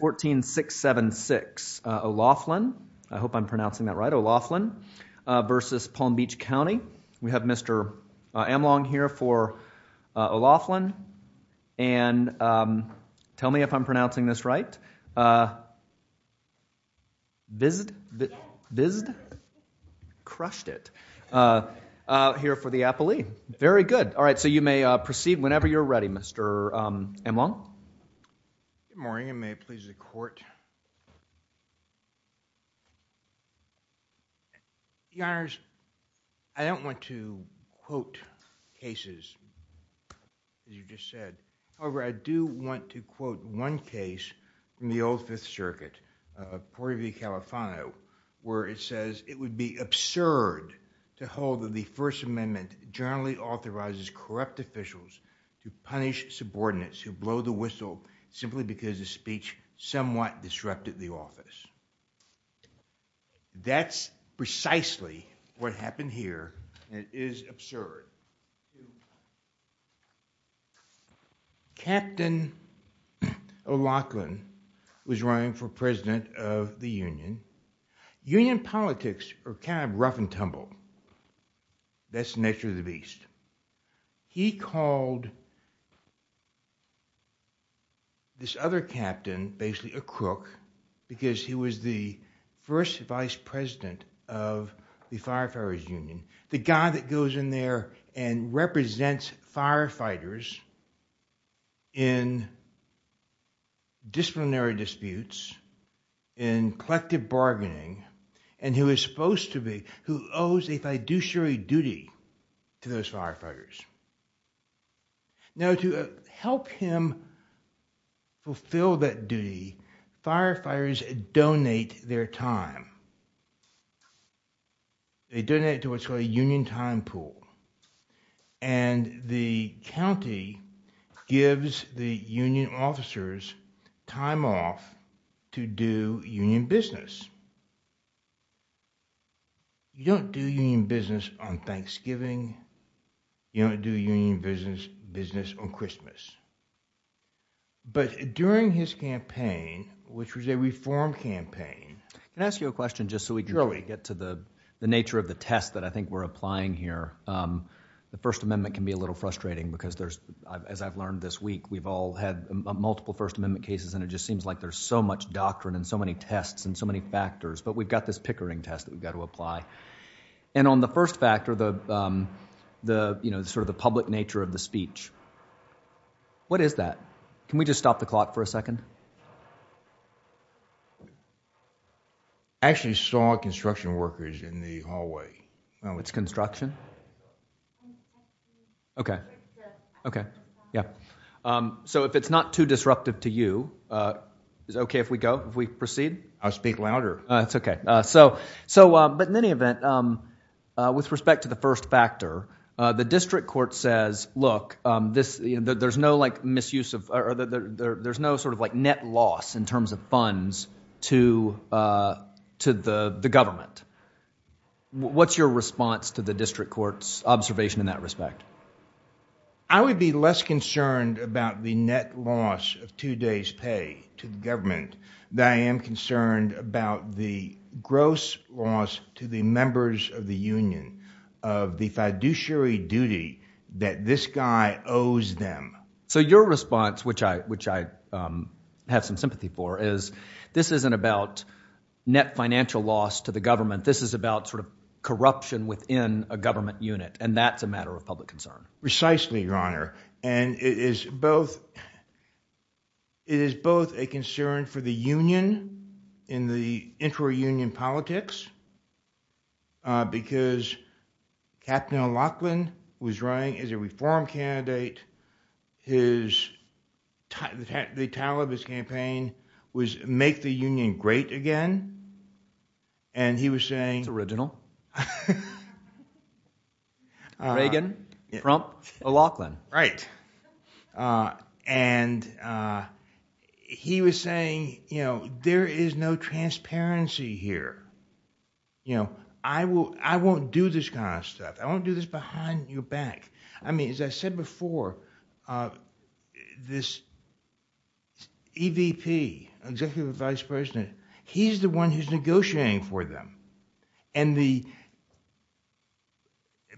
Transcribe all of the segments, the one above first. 14676 O'Laughlin. I hope I'm pronouncing that right. O'Laughlin versus Palm Beach County. We have Mr. Amlong here for O'Laughlin and tell me if I'm pronouncing this right. Vizd? Vizd? Crushed it. Here for the appellee. Very good. All right so you may proceed whenever you're ready Mr. Amlong. Good morning and may it please the court. Your honors, I don't want to quote cases as you just said. However, I do want to quote one case from the Old Fifth Circuit of Porter v. Califano where it says it would be absurd to hold that the First Amendment generally authorizes corrupt officials to punish subordinates who blow the whistle simply because the speech somewhat disrupted the office. That's precisely what happened here. It is absurd. Captain O'Laughlin was running for president of the Union. Union called this other captain basically a crook because he was the first vice president of the Firefighters Union. The guy that goes in there and represents firefighters in disciplinary disputes, in collective bargaining, and who is Now to help him fulfill that duty, firefighters donate their time. They donate it to what's called a union time pool and the county gives the union officers time off to do union business. You don't do union business on Thanksgiving. You don't do union business on Christmas. During his campaign, which was a reform campaign... Can I ask you a question just so we can get to the nature of the test that I think we're applying here? The First Amendment can be a little frustrating because there's, as I've learned this week, we've all had multiple First Amendment cases and it just seems like there's so much doctrine and so many factors, but we've got this Pickering test that we've got to apply. On the first factor, the public nature of the speech, what is that? Can we just stop the clock for a second? I actually saw construction workers in the hallway. It's construction? Okay. If it's not too disruptive to you, is it okay if we proceed? I'll speak louder. That's okay. In any event, with respect to the first factor, the district court says, look, there's no net loss in terms of funds to the government. What's your response to the district court's observation in that respect? I would be less concerned about the net loss of two days pay to the government than I am concerned about the gross loss to the members of the union of the fiduciary duty that this guy owes them. So your response, which I have some sympathy for, is this isn't about net financial loss to the government. This is about sort of corruption within a government unit and that's a matter of public concern. Precisely, your honor, and it is both a concern for the union in the intra-union politics because Captain O'Loughlin was running as a reform candidate. The title of his campaign was make the union great again and he was saying... It's original. Reagan, Trump, O'Loughlin. Right, and he was saying, you know, there is no transparency here. You know, I won't do this kind of stuff. I won't do this behind your back. I mean, as I said before, this EVP, executive vice for them and the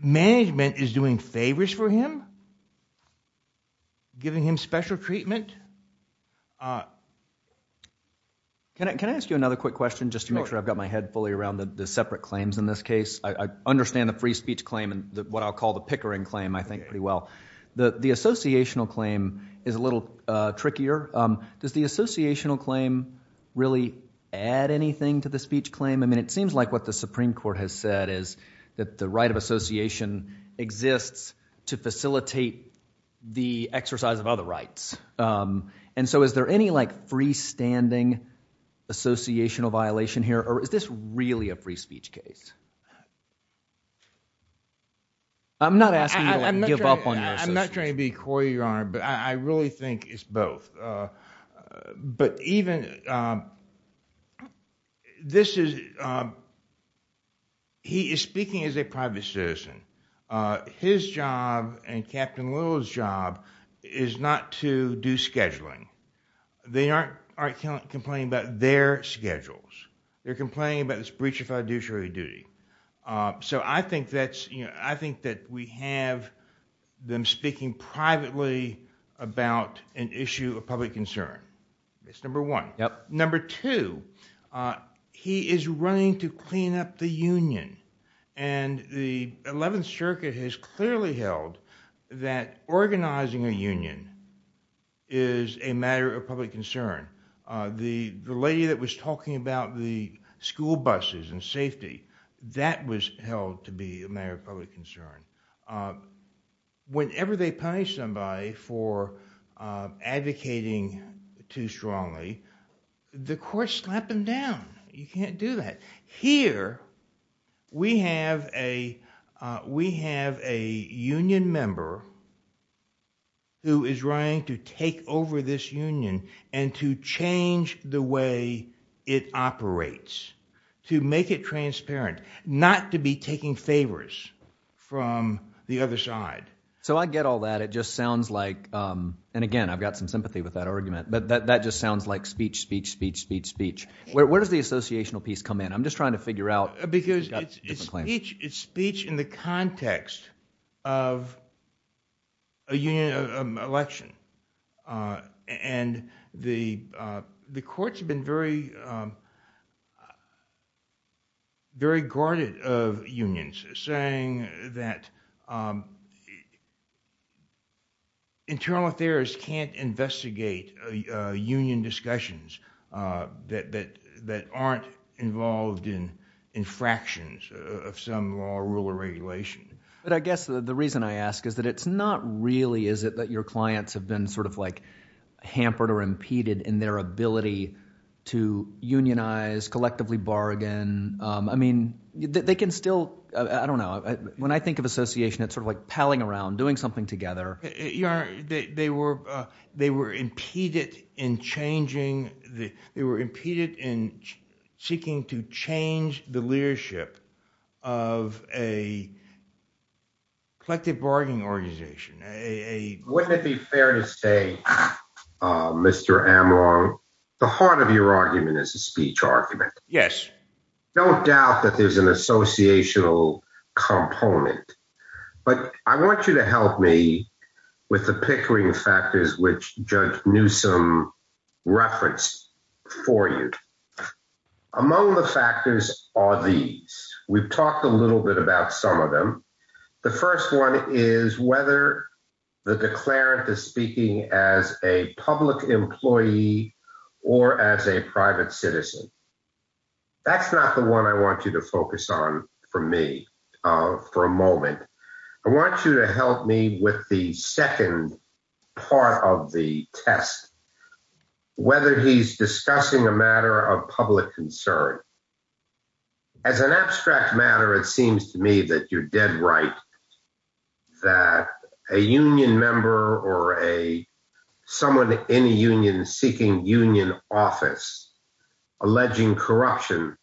management is doing favors for him, giving him special treatment. Can I ask you another quick question just to make sure I've got my head fully around the separate claims in this case? I understand the free speech claim and what I'll call the pickering claim, I think, pretty well. The associational claim is a little trickier. Does the associational claim really add anything to the speech claim? I mean, it seems like what the Supreme Court has said is that the right of association exists to facilitate the exercise of other rights and so is there any, like, freestanding associational violation here or is this really a free speech case? I'm not asking you to give up on your assistance. I'm not trying to be coy, your honor, but I really think it's both. But even, this is, he is speaking as a private citizen. His job and Captain Little's job is not to do scheduling. They aren't complaining about their schedules. They're complaining about this breach of fiduciary duty. So I think that's, you know, I think that we have them speaking privately about an issue of public concern. It's number one. Number two, he is running to clean up the Union and the 11th Circuit has clearly held that organizing a union is a matter of public concern. The lady that was talking about the school buses and safety, that was held to be a matter of public concern. Whenever they punish somebody for advocating too strongly, the court slapped them down. You can't do that. Here, we have a, we have a union member who is running to take over this union and to change the way it operates, to make it transparent, not to be taking favors from the other side. So I get all that. It just sounds like, and again, I've got some sympathy with that argument, but that just sounds like speech, speech, speech, speech, speech. Where does the associational piece come in? I'm just trying to figure out. Because it's speech in the context of a union election and the courts have been very, very guarded of unions, saying that internal affairs can't investigate union discussions that aren't involved in infractions of some law, rule, or regulation. But I guess the reason I ask is that it's not really is it that your clients have been sort of like hampered or impeded in their ability to unionize, collectively bargain. I mean, they can still, I don't know, when I think of association, it's sort of like palling around, doing something together. They were impeded in changing, they were impeded in seeking to change the And I dare to say, Mr. Amrong, the heart of your argument is a speech argument. Yes. No doubt that there's an associational component. But I want you to help me with the pickering factors which Judge Newsome referenced for you. Among the factors are these. We've talked a little bit about some of them. The first one is whether the declarant is speaking as a public employee or as a private citizen. That's not the one I want you to focus on for me for a moment. I want you to help me with the second part of the test, whether he's discussing a matter of public concern. As an abstract matter, it seems to me that you're dead right that a union member or a someone in a union seeking union office alleging corruption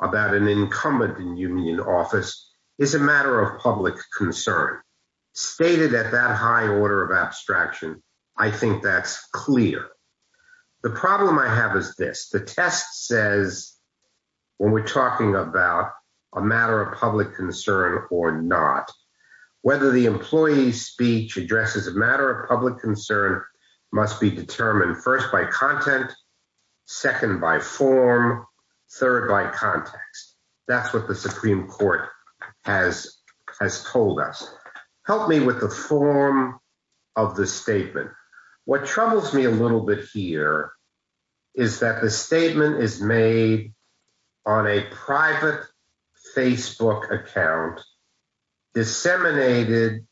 about an incumbent in union office is a matter of public concern. Stated at that high order of abstraction, I think that's clear. The problem I have is this. The test says, when we're talking about a matter of public concern or not, whether the employee's speech addresses a matter of public concern must be determined first by content, second by form, third by context. That's what the Supreme Court has told us. Help me with the form of the statement. What troubles me a little bit here is that the statement is made on a account disseminated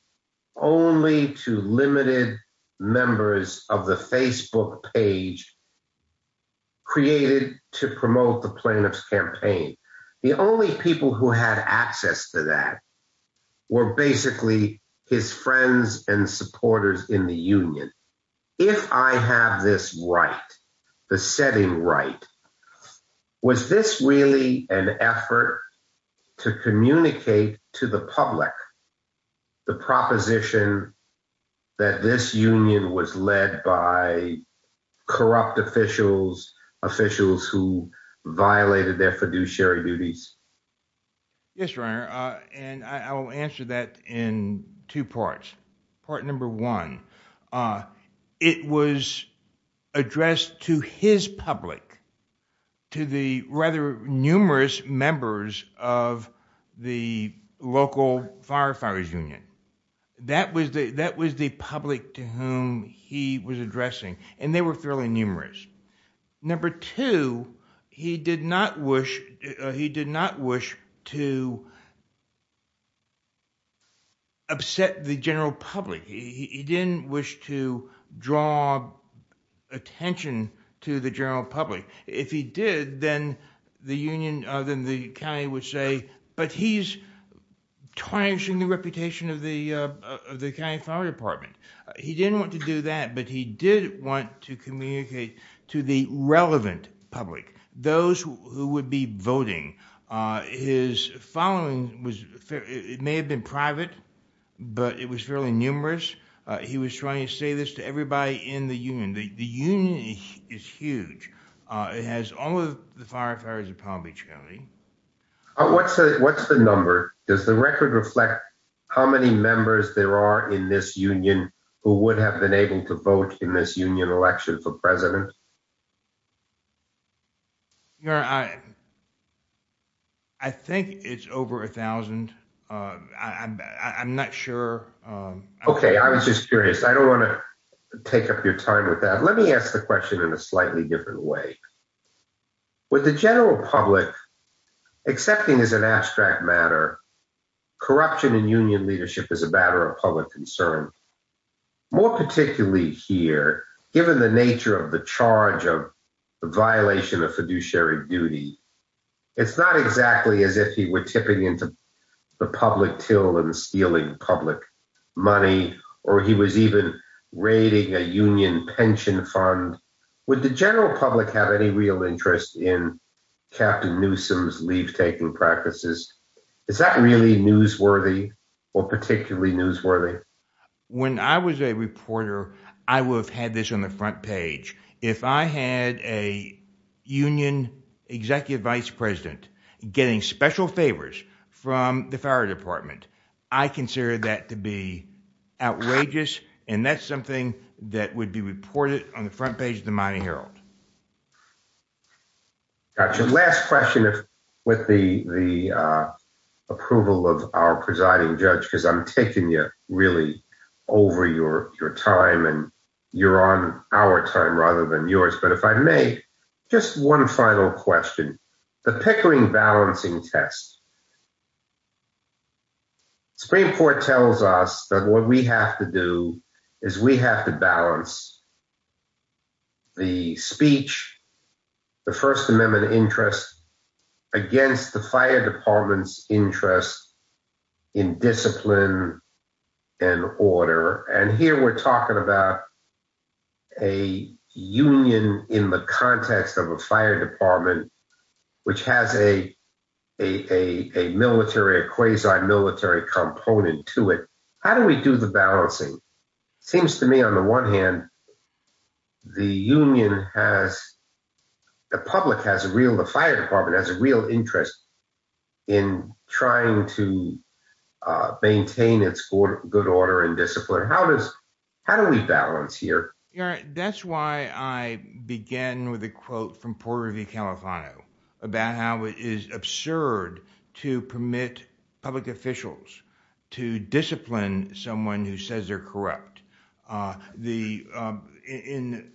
only to limited members of the Facebook page created to promote the plaintiff's campaign. The only people who had access to that were basically his friends and supporters in the union. If I have this right, the public, the proposition that this union was led by corrupt officials, officials who violated their fiduciary duties. Yes, right. And I will answer that in two parts. Part number one, uh, it was addressed to his public to the rather numerous members of the local firefighters union. That was the, that was the public to whom he was addressing and they were fairly numerous. Number two, he did not wish, he did not wish to upset the general public. He didn't wish to draw attention to the general public. If he did, then the union, then the county would say, but he's tarnishing the reputation of the county fire department. He didn't want to do that, but he did want to communicate to the relevant public, those who would be voting. His following was, it may have been private, but it was fairly numerous. He was trying to say this to everybody in the union. The union is huge. Uh, it has all of the firefighters of Palm Beach County. What's the, what's the number? Does the record reflect how many members there are in this union who would have been able to vote in this union election for president? You know, I, I think it's over 1000. Uh, I'm not sure. Okay. I was just curious. I don't ask the question in a slightly different way. With the general public accepting as an abstract matter, corruption in union leadership is a matter of public concern. More particularly here, given the nature of the charge of the violation of fiduciary duty, it's not exactly as if he were tipping into the public till and stealing public money, or he was raiding a union pension fund. Would the general public have any real interest in Captain Newsom's leave taking practices? Is that really newsworthy or particularly newsworthy? When I was a reporter, I would have had this on the front page. If I had a union executive vice president getting special favors from the fire department, I consider that to be outrageous. And that's something that would be reported on the front page of the mining Herald. Gotcha. Last question. If with the, uh, approval of our presiding judge, because I'm taking you really over your your time and you're on our time rather than yours. But if I may just one final question, the Pickering balancing test. Supreme Court tells us that what we have to do is we have to balance the speech, the First Amendment interest against the fire department's interest in discipline and order. And here we're talking about a union in the context of a fire department, which has a a military quasi military component to it. How do we do the balancing? Seems to me, on the one hand, the union has the public has a real the fire department has a real interest in trying to maintain its good order and discipline. How does how do we balance here? That's why I began with a quote from Porter v. Califano about how it is absurd to permit public officials to discipline someone who says they're correct. Uh, the, uh, in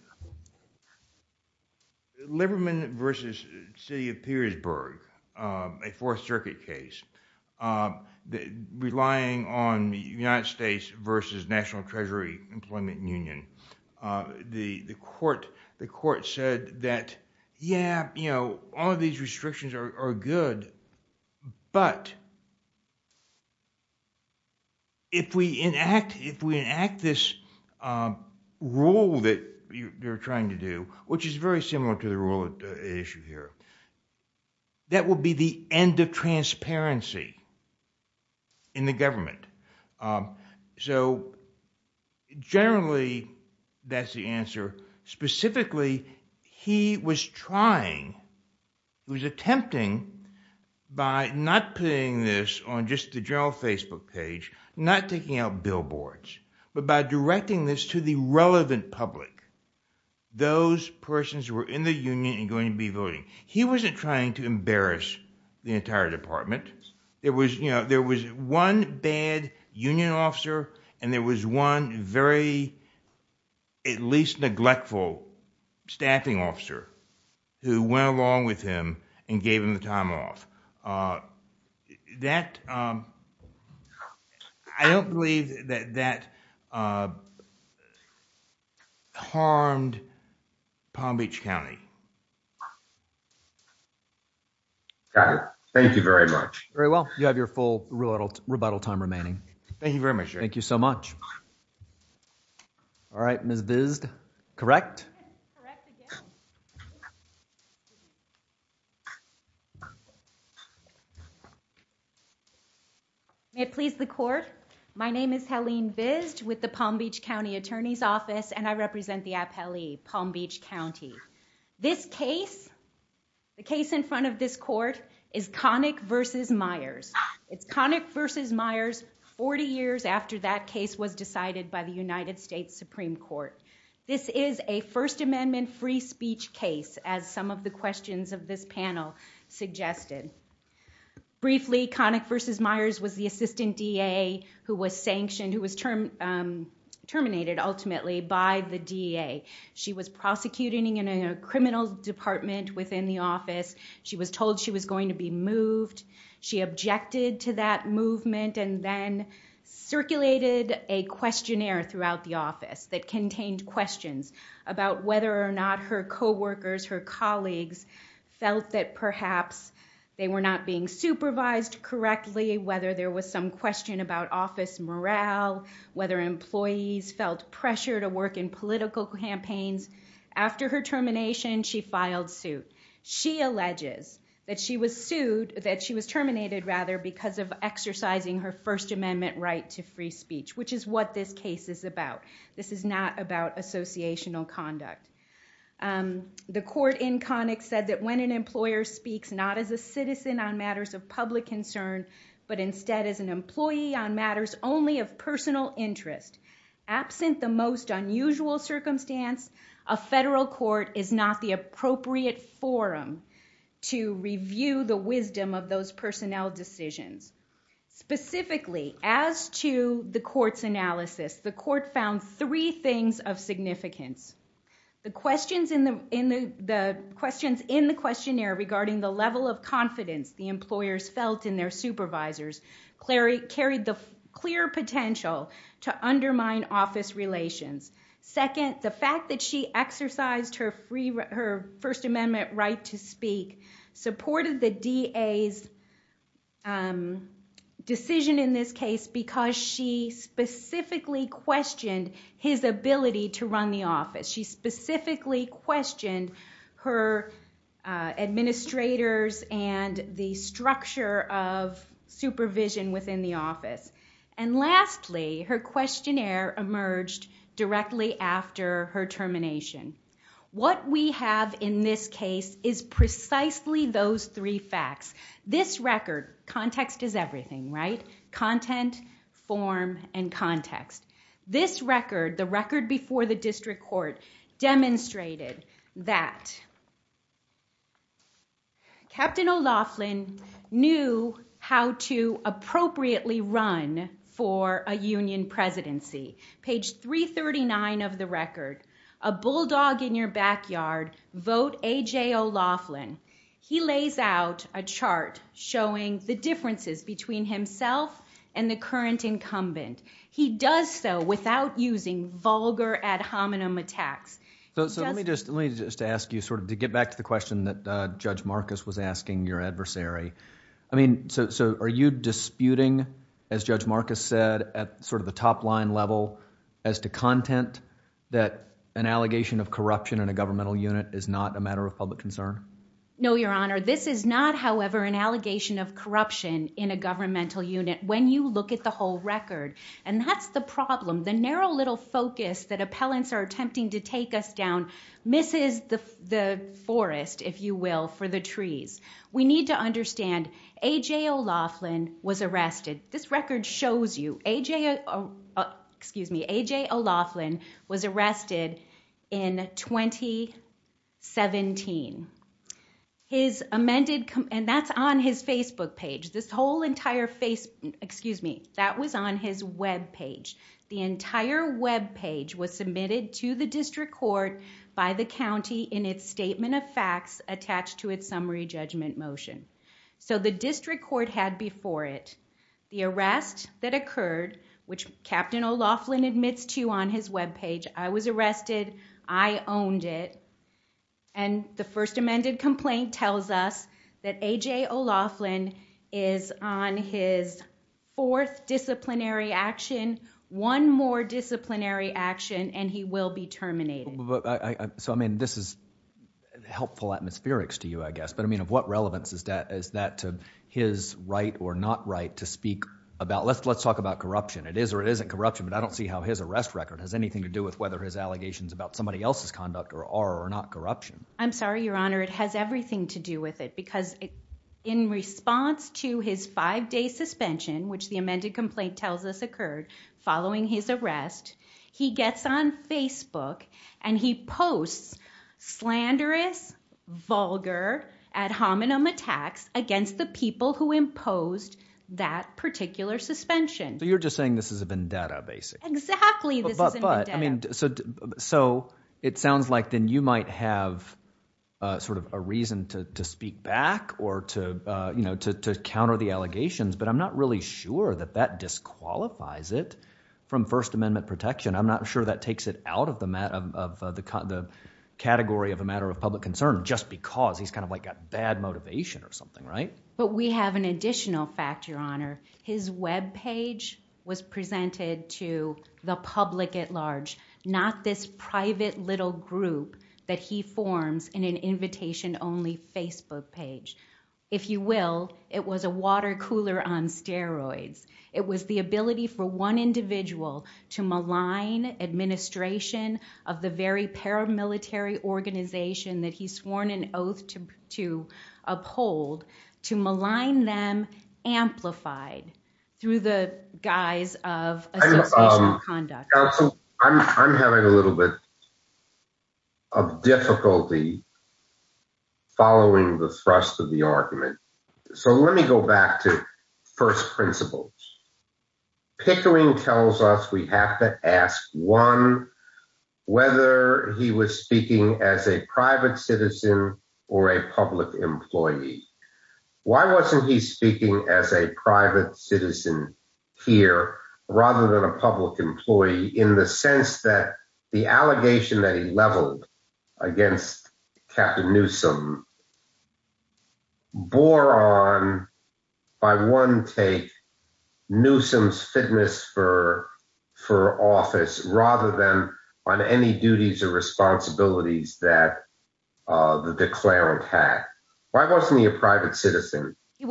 Lieberman versus City of Petersburg, a Fourth Circuit case, uh, relying on the United States versus National Treasury Employment Union. Uh, the court, the court said that, yeah, you know, all of these restrictions are good, but if we enact, if we enact this, uh, rule that you're trying to do, which is very similar to the rule issue here, that will be the end of transparency in the government. Um, so generally that's the answer. Specifically, he was trying, he was attempting by not putting this on just the general Facebook page, not taking out billboards, but by directing this to the relevant public. Those persons were in the union and going to be voting. He wasn't trying to embarrass the entire department. There was, you know, there was one bad union officer and there was one very, at least, neglectful staffing officer who went along with him and gave him the time off. Uh, that, um, I don't believe that that, uh, harmed Palm Beach County. Mhm. Got it. Thank you very much. Very well. You have your full rebuttal time remaining. Thank you very much. Thank you so much. All right, Miss Vis correct. May it please the court. My name is Helene Vis with the Palm Beach County Attorney's Office and I represent the appellee Palm Beach County. This case, the case in front of this court is Connick versus Myers. It's Connick versus Myers. 40 years after that case was decided by the United States Supreme Court. This is a first amendment free speech case. As some of the questions of this panel suggested briefly, Connick versus Myers was the ultimately by the D. A. She was prosecuting in a criminal department within the office. She was told she was going to be moved. She objected to that movement and then circulated a questionnaire throughout the office that contained questions about whether or not her co workers, her colleagues felt that perhaps they were not being supervised correctly. Whether there was some question about office morale, whether employees felt pressure to work in political campaigns. After her termination, she filed suit. She alleges that she was sued, that she was terminated rather because of exercising her first amendment right to free speech, which is what this case is about. This is not about associational conduct. Um, the court in Connick said that when an employer speaks not as a citizen on matters of public concern, but instead as an employee on matters only of personal interest, absent the most unusual circumstance, a federal court is not the appropriate forum to review the wisdom of those personnel decisions. Specifically, as to the court's analysis, the court found three things of significance. The questions in the in the questions in the questionnaire regarding the level of confidence the cleric carried the clear potential to undermine office relations. Second, the fact that she exercised her free, her first amendment right to speak supported the DA's, um, decision in this case because she specifically questioned his ability to run the office. She specifically questioned her, uh, ability to run the office. And lastly, her questionnaire emerged directly after her termination. What we have in this case is precisely those three facts. This record, context is everything, right? Content, form, and context. This record, the record before the district court, demonstrated that Captain O'Loughlin knew how to appropriately run for a union presidency. Page 3 39 of the record. A bulldog in your backyard. Vote A. J. O. Laughlin. He lays out a chart showing the differences between himself and the current incumbent. He does so without using vulgar ad hominem attacks. So let me just, let me just ask you sort of to get back to the question that Judge Marcus was asking your adversary. I mean, so are you disputing, as Judge Marcus said, at sort of the top line level as to content that an allegation of corruption in a governmental unit is not a matter of public concern? No, Your Honor. This is not, however, an allegation of corruption in a governmental unit when you look at the whole record. And that's the problem. The narrow little focus that you will for the trees. We need to understand A. J. O. Laughlin was arrested. This record shows you A. J. Excuse me. A. J. O. Laughlin was arrested in 2017. His amended and that's on his Facebook page. This whole entire face. Excuse me. That was on his web page. The entire web page was submitted to the district court by the county in its statement of facts attached to its summary judgment motion. So the district court had before it the arrest that occurred, which Captain O. Laughlin admits to on his web page. I was arrested. I owned it. And the first amended complaint tells us that A. J. O. Laughlin is on his fourth disciplinary action. One more disciplinary action and he will be terminated. So I spherics to you, I guess. But I mean, of what relevance is that? Is that his right or not right to speak about? Let's let's talk about corruption. It is or isn't corruption. But I don't see how his arrest record has anything to do with whether his allegations about somebody else's conduct or are or not corruption. I'm sorry, Your Honor. It has everything to do with it, because in response to his five day suspension, which the amended complaint tells us occurred following his arrest, he gets on Facebook and he posts slanderous, vulgar ad hominem attacks against the people who imposed that particular suspension. So you're just saying this is a vendetta, basically. Exactly. But I mean, so it sounds like then you might have sort of a reason to speak back or to, you know, to counter the allegations. But I'm not really sure that that disqualifies it from First Amendment protection. I'm not sure that takes it out of the matter of the category of a matter of public concern just because he's kind of like a bad motivation or something, right? But we have an additional fact, Your Honor. His Web page was presented to the public at large, not this private little group that he forms in an invitation only Facebook page. If you will, it was a water cooler on steroids. It was the ability for one individual to malign administration of the very paramilitary organization that he's sworn an oath to uphold to malign them amplified through the guys of conduct. I'm having a little bit of difficulty following the thrust of the argument. So let me go back to first principles. Pickering tells us we have to ask one whether he was speaking as a private citizen or a public employee. Why wasn't he speaking as a private citizen here rather than a public employee in the sense that the allegation that he leveled against Captain Newsome bore on by one take Newsome's fitness for for office rather than on any duties or responsibilities that the declarant had. Why wasn't he a private citizen? You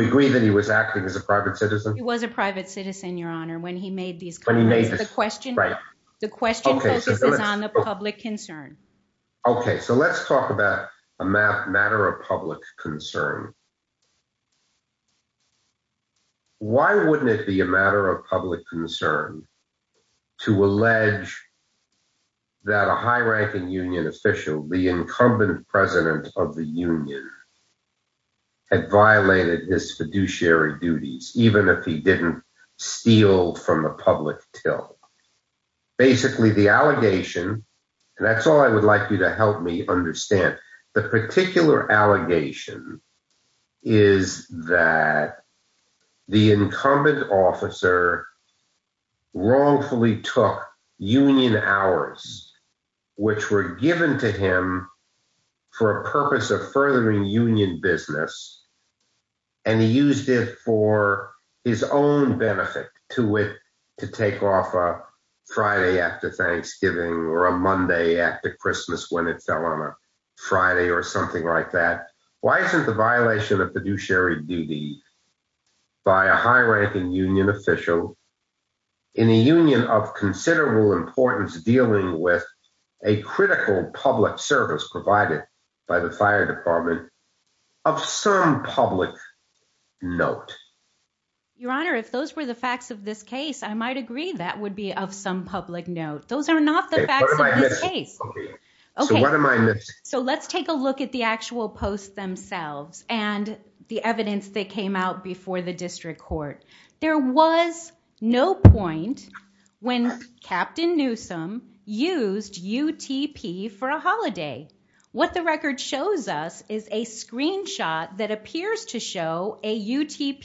agree that he was acting as a private citizen? It was a private citizen, Your Honor. When he made these when he made the question right, the talk about a map matter of public concern. Why wouldn't it be a matter of public concern to allege that a high ranking union official, the incumbent president of the union, had violated his fiduciary duties, even if he didn't steal from the public till. Basically the allegation, and that's all I would like you to help me understand the particular allegation, is that the incumbent officer wrongfully took union hours, which were given to him for a purpose of furthering union business. And he used it for his own benefit to it to take off a Friday after Friday or something like that. Why isn't the violation of fiduciary duty by a high ranking union official in the union of considerable importance dealing with a critical public service provided by the fire department of some public note? Your Honor, if those were the facts of this case, I might agree that would be of some public note. Those are not the facts of this case. Okay, so let's take a look at the actual posts themselves and the evidence that came out before the district court. There was no point when Captain Newsome used UTP for a holiday. What the record shows us is a screenshot that appears to be of Captain Newsome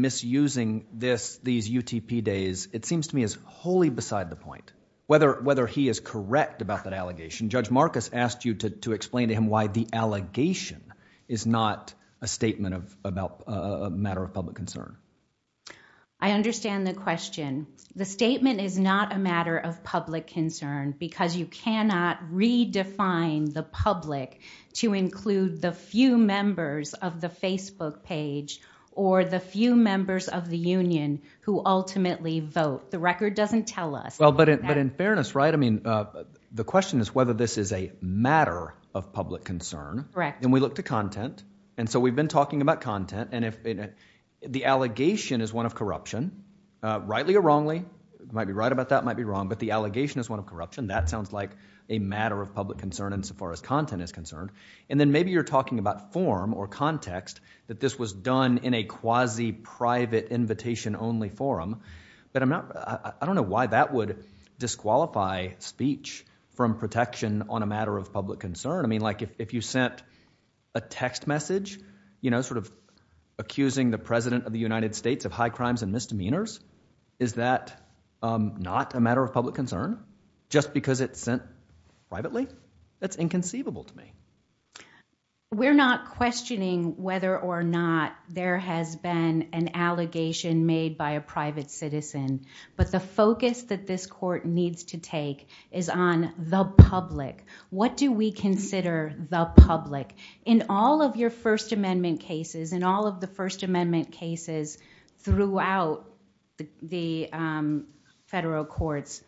misusing this these UTP days. It seems to me as wholly beside the point whether whether he is correct about that allegation. Judge Marcus asked you to explain to him why the allegation is not a statement of about a matter of public concern. I understand the question. The statement is not a matter of public concern because you cannot redefine the public to include the few members of the Facebook page or the few members of the union who ultimately vote. The record doesn't tell us. Well, but but in fairness, right? I mean, the question is whether this is a matter of public concern, correct? And we look to content. And so we've been talking about content and if the allegation is one of corruption, rightly or wrongly, might be right about that might be wrong, but the allegation is one of corruption. That sounds like a matter of public concern insofar as content is concerned. And then maybe you're talking about form or context that this was done in a quasi private invitation only forum. But I'm not I don't know why that would disqualify speech from protection on a matter of public concern. I mean, like if you sent a text message, you know, sort of accusing the president of the United States of high crimes and misdemeanors. Is that not a matter of public concern just because it's sent privately? That's inconceivable to me. We're not questioning whether or not there has been an allegation made by a private citizen. But the focus that this court needs to take is on the public. What do we consider the public? In all of your First Amendment cases, in all of the First Amendment cases throughout the federal courts,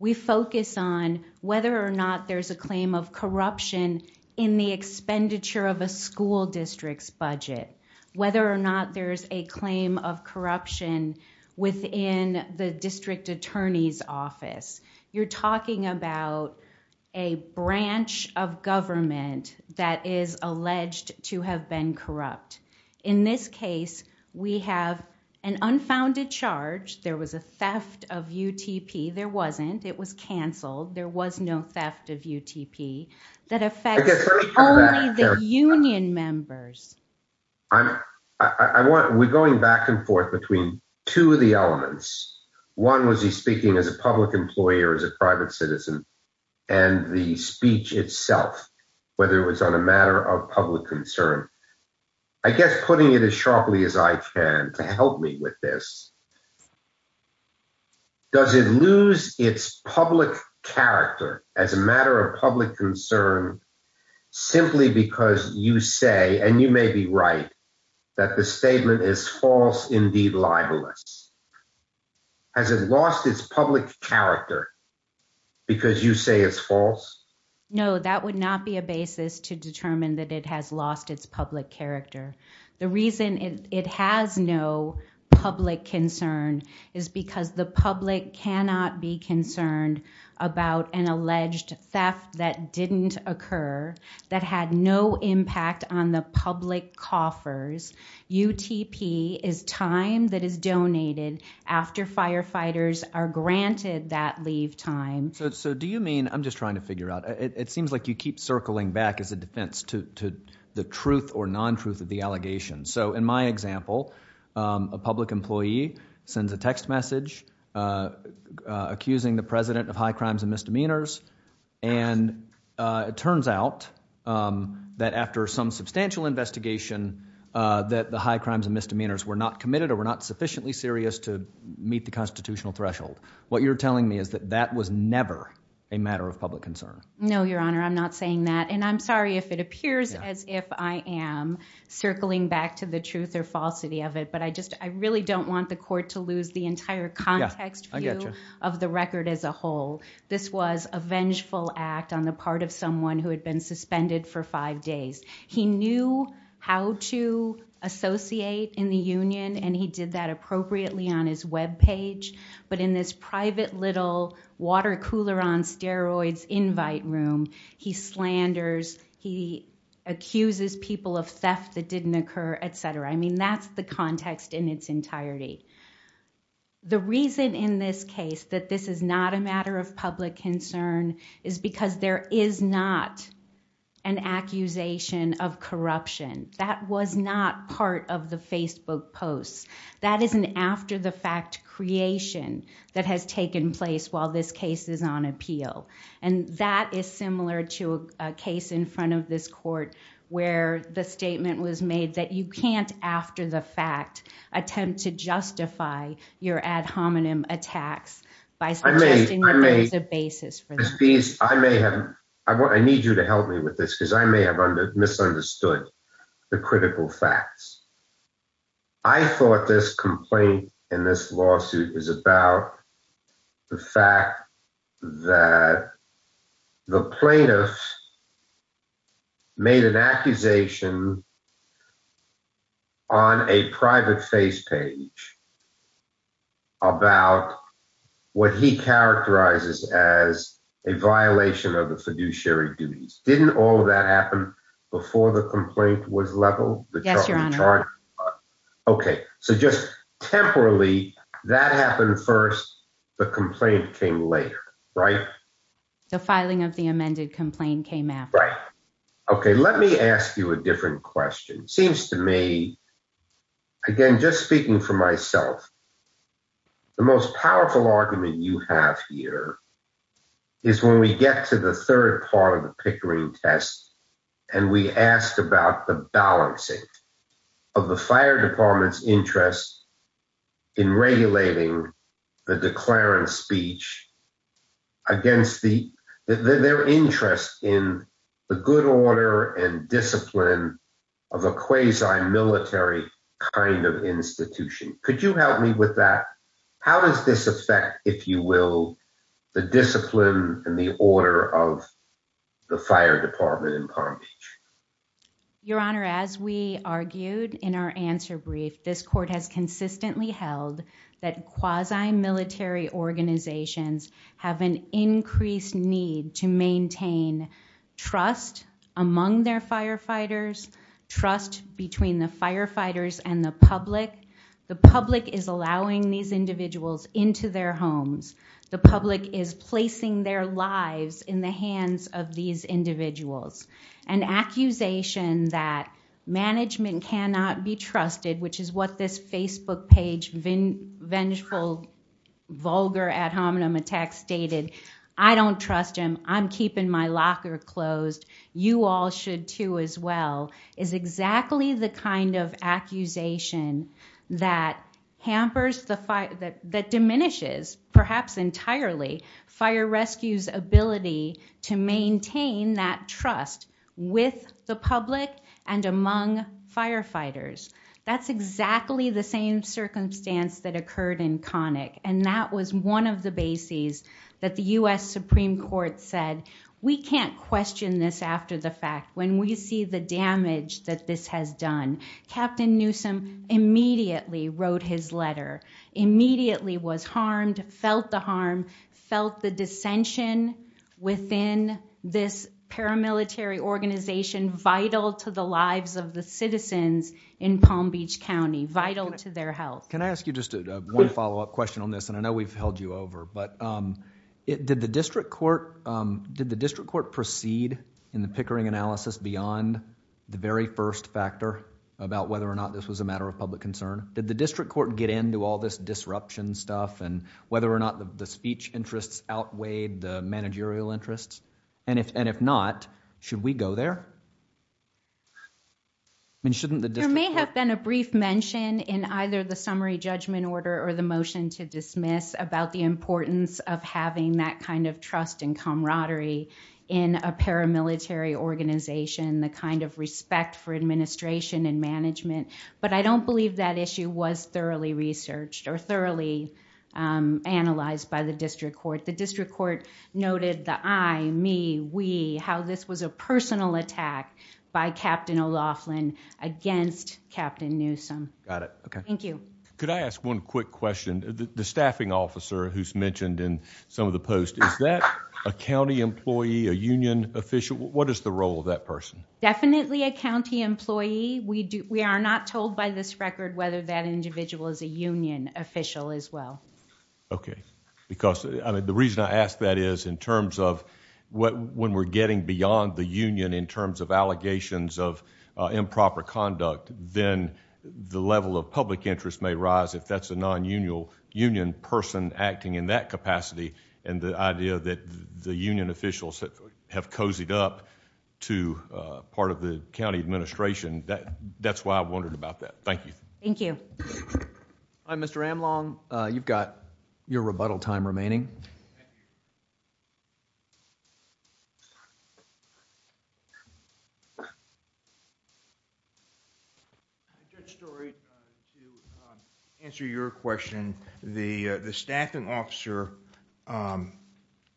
we focus on whether or not there's a claim of corruption in the expenditure of a school district's budget, whether or not there's a claim of corruption within the district attorney's office. You're talking about a branch of government that is alleged to have been corrupt. In this case, we have an unfounded charge. There was a theft of UTP. There wasn't. It was canceled. There was no theft of UTP that affects only the union members. We're going back and forth between two of the elements. One was he speaking as a public employer, as a private citizen, and the speech itself, whether it was on a matter of public concern. I guess putting it as sharply as I can to help me with this, does it lose its public character as a matter of public concern simply because you say, and you may be right, that the statement is false, indeed libelous? Has it lost its public character because you say it's false? No, that would not be a basis to determine that it has lost its public character. The reason it has no public concern is because the public cannot be concerned about an alleged theft that didn't occur, that had no impact on the public coffers. UTP is time that is donated after firefighters are granted that leave time. Do you mean, I'm just trying to figure out, it seems like you keep circling back as a defense to the truth or non-truth of the allegation. In my of high crimes and misdemeanors. It turns out that after some substantial investigation that the high crimes and misdemeanors were not committed or were not sufficiently serious to meet the constitutional threshold. What you're telling me is that that was never a matter of public concern. No, your honor. I'm not saying that. I'm sorry if it appears as if I am circling back to the truth or falsity of it. I really don't want the court to was a vengeful act on the part of someone who had been suspended for five days. He knew how to associate in the union and he did that appropriately on his webpage, but in this private little water cooler on steroids invite room, he slanders, he accuses people of theft that didn't occur, etc. I mean, that's the context in its entirety. The reason in this case that this is not a matter of public concern is because there is not an accusation of corruption. That was not part of the Facebook posts. That is an after the fact creation that has taken place while this case is on appeal. That is similar to a case in front of this court where the your ad hominem attacks by suggesting that there is a basis for this piece. I may have, I want, I need you to help me with this because I may have misunderstood the critical facts. I thought this complaint in this lawsuit is about the fact that the plaintiff made an accusation on a private face page about what he characterizes as a violation of the fiduciary duties. Didn't all of that happen before the complaint was leveled? Yes, your honor. Okay, so just temporarily that happened first. The complaint came later, right? The filing of the amended complaint came after, right? Okay, let me ask you a question. I'm speaking for myself. The most powerful argument you have here is when we get to the third part of the Pickering test and we asked about the balancing of the fire department's interest in regulating the declarant speech against their interest in the good order and discipline of a quasi military kind of institution. Could you help me with that? How does this affect, if you will, the discipline and the order of the fire department in Palm Beach? Your honor, as we argued in our answer brief, this court has consistently held that quasi military organizations have an increased need to maintain trust among their firefighters and the public. The public is allowing these individuals into their homes. The public is placing their lives in the hands of these individuals. An accusation that management cannot be trusted, which is what this Facebook page, Vengeful Vulgar Ad Hominem Attacks, stated, I don't trust him. I'm keeping my locker closed. You all should too as well, is exactly the kind of accusation that hampers the fire, that diminishes, perhaps entirely, fire rescue's ability to maintain that trust with the public and among firefighters. That's exactly the same circumstance that occurred in Connick and that was one of the bases that the U.S. Supreme Court said, we can't question this after the fact. When we see the damage that this has done, Captain Newsome immediately wrote his letter, immediately was harmed, felt the harm, felt the dissension within this paramilitary organization vital to the lives of the citizens in Palm Beach County, vital to their health. Can I ask you just one follow-up question on this? I know we've held you over. Did the district court proceed in the Pickering analysis beyond the very first factor about whether or not this was a matter of public concern? Did the district court get into all this disruption stuff and whether or not the speech interests outweighed the managerial interests? If not, should we go there? Shouldn't the district court... or the motion to dismiss about the importance of having that kind of trust and camaraderie in a paramilitary organization, the kind of respect for administration and management, but I don't believe that issue was thoroughly researched or thoroughly analyzed by the district court. The district court noted the I, me, we, how this was a personal attack by Captain O'Loughlin against Captain Newsome. Got it, okay. Thank you. Could I ask one quick question? The staffing officer who's mentioned in some of the posts, is that a county employee, a union official? What is the role of that person? Definitely a county employee. We are not told by this record whether that individual is a union official as well. Okay, because I mean in terms of when we're getting beyond the union in terms of allegations of improper conduct, then the level of public interest may rise if that's a non-union person acting in that capacity and the idea that the union officials have cozied up to part of the county administration, that's why I wondered about that. Thank you. Thank you. Mr. Amlong, you've got your rebuttal time remaining. Good story. To answer your question, the staffing officer, I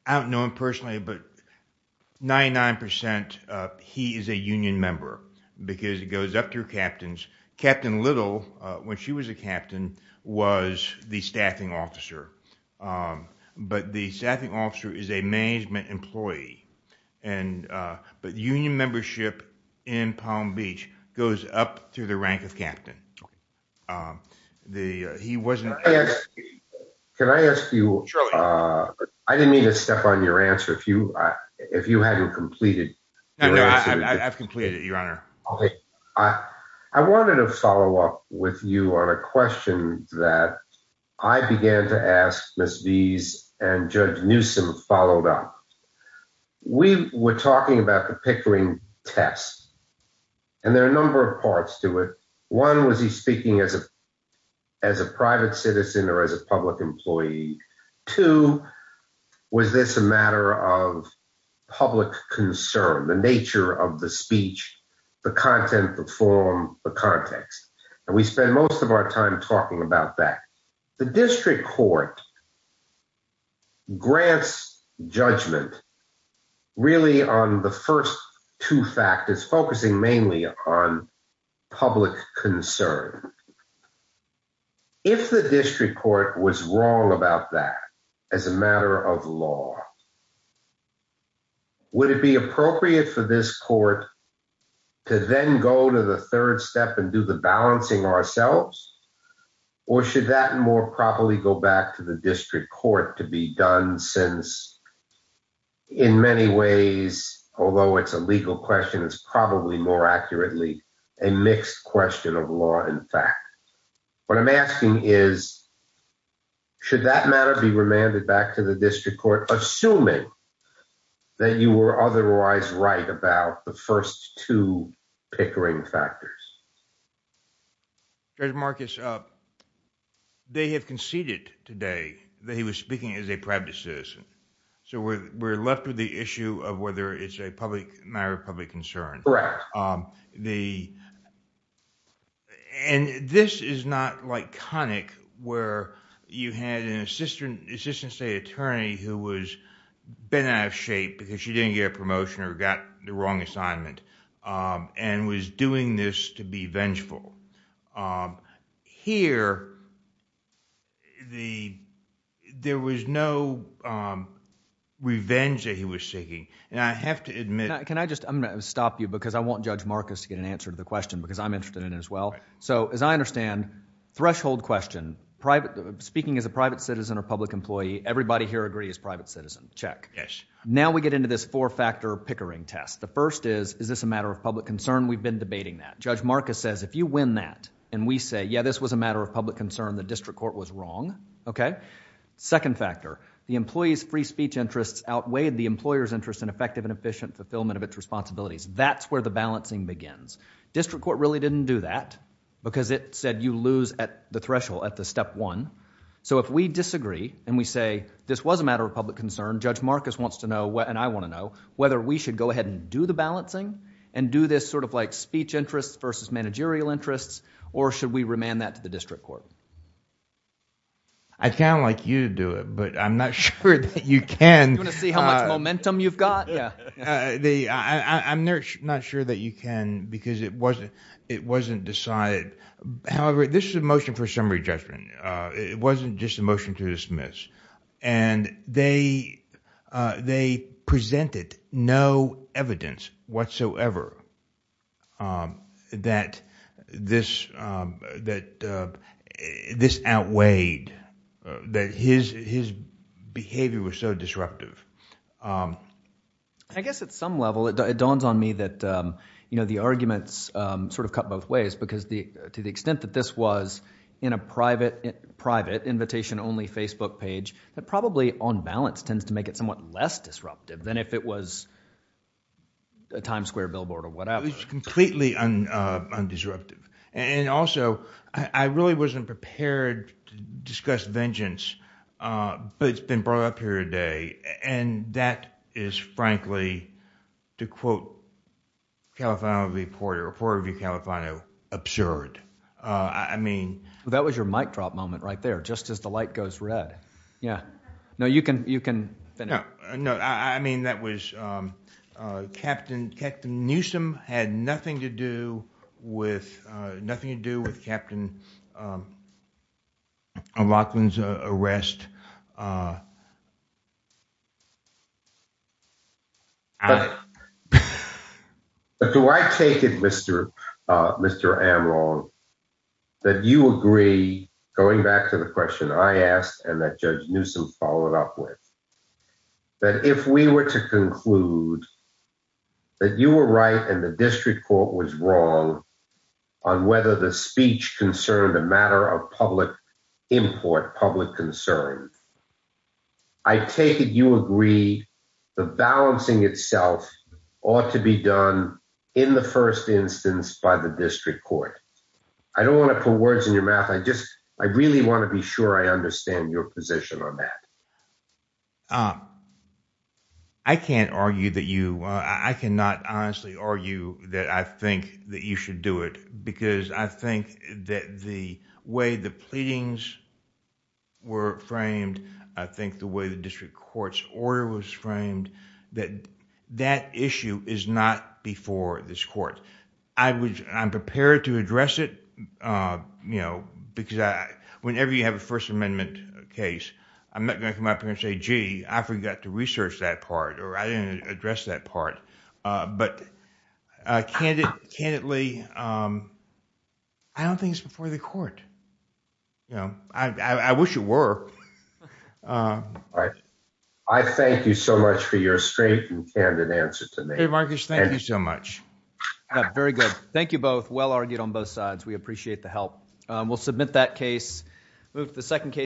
don't know him personally, but 99 percent, he is a union member because it goes up through captains. Captain Little, when she was a captain, was the staffing officer, but the staffing officer is a management employee, but union membership in Palm Beach goes up through the rank of captain. Can I ask you, I didn't mean to step on your answer if you hadn't completed. I've completed with you on a question that I began to ask Ms. Vees and Judge Newsom followed up. We were talking about the Pickering test and there are a number of parts to it. One, was he speaking as a private citizen or as a public employee? Two, was this a matter of public concern, the nature of the speech, the content, the form, the context? We spend most of our time talking about that. The district court grants judgment really on the first two factors, focusing mainly on public concern. If the district court was wrong about that as a matter of law, would it be appropriate for this court to then go to the third step and do the balancing ourselves, or should that more probably go back to the district court to be done since, in many ways, although it's a legal question, it's probably more accurately a mixed question of law and fact. What I'm asking is, should that matter be remanded back to the district court assuming that you were otherwise right about the first two Pickering factors? Judge Marcus, they have conceded today that he was speaking as a private citizen, so we're left with the issue of whether it's a matter of public concern. This is not iconic where you had an assistant state attorney who was bent out of shape because she didn't get a promotion or got the wrong assignment and was doing this to be vengeful. Here, there was no revenge that he was seeking. I have to admit... Can I just stop you because I want Judge Marcus to get an answer to the question because I'm threshold question. Speaking as a private citizen or public employee, everybody here agrees private citizen. Check. Now we get into this four-factor Pickering test. The first is, is this a matter of public concern? We've been debating that. Judge Marcus says, if you win that and we say, yeah, this was a matter of public concern, the district court was wrong. Second factor, the employee's free speech interests outweighed the employer's interest in effective and efficient fulfillment of its responsibilities. That's where the balancing begins. District court really didn't do that because it said you lose the threshold at the step one. If we disagree and we say, this was a matter of public concern, Judge Marcus wants to know, and I want to know, whether we should go ahead and do the balancing and do this speech interest versus managerial interests or should we remand that to the district court? I'd like you to do it, but I'm not sure that you can. You want to see how much momentum you've got? I'm not sure that you can because it wasn't decided. However, this is a motion for summary judgment. It wasn't just a motion to dismiss. They presented no evidence whatsoever that this outweighed, that his behavior was so disruptive. I guess at some level, it dawns on me that the arguments cut both ways because to the extent that this was in a private invitation-only Facebook page, that probably on balance tends to make it somewhat less disruptive than if it was a Times Square billboard or whatever. It's completely undisruptive. Also, I really wasn't prepared to discuss vengeance, but it's been brought up here today, and that is frankly to quote Califano v. Porter or Porter v. Califano, absurd. That was your mic drop moment right there, just as the light goes red. Yeah. No, you can finish. No, I mean that was Captain Newsom had nothing to do with Captain Rockland's arrest. But do I take it, Mr. Amrong, that you agree, going back to the question I asked, and that Judge Newsom followed up with, that if we were to conclude that you were right and the district court was wrong on whether the speech concerned a matter of public import, public concern, I take it you agree the balancing itself ought to be done in the first instance by the position on that? I cannot honestly argue that I think that you should do it because I think that the way the pleadings were framed, I think the way the district court's order was framed, that that issue is not before this court. I'm prepared to address it because whenever you have First Amendment case, I'm not going to come up here and say, gee, I forgot to research that part or I didn't address that part. But candidly, I don't think it's before the court. I wish it were. I thank you so much for your straight and candid answer to me. Hey, Marcus, thank you so much. Very good. Thank you both. Well argued on both sides. We appreciate the help. We'll submit that case. Move to the second case.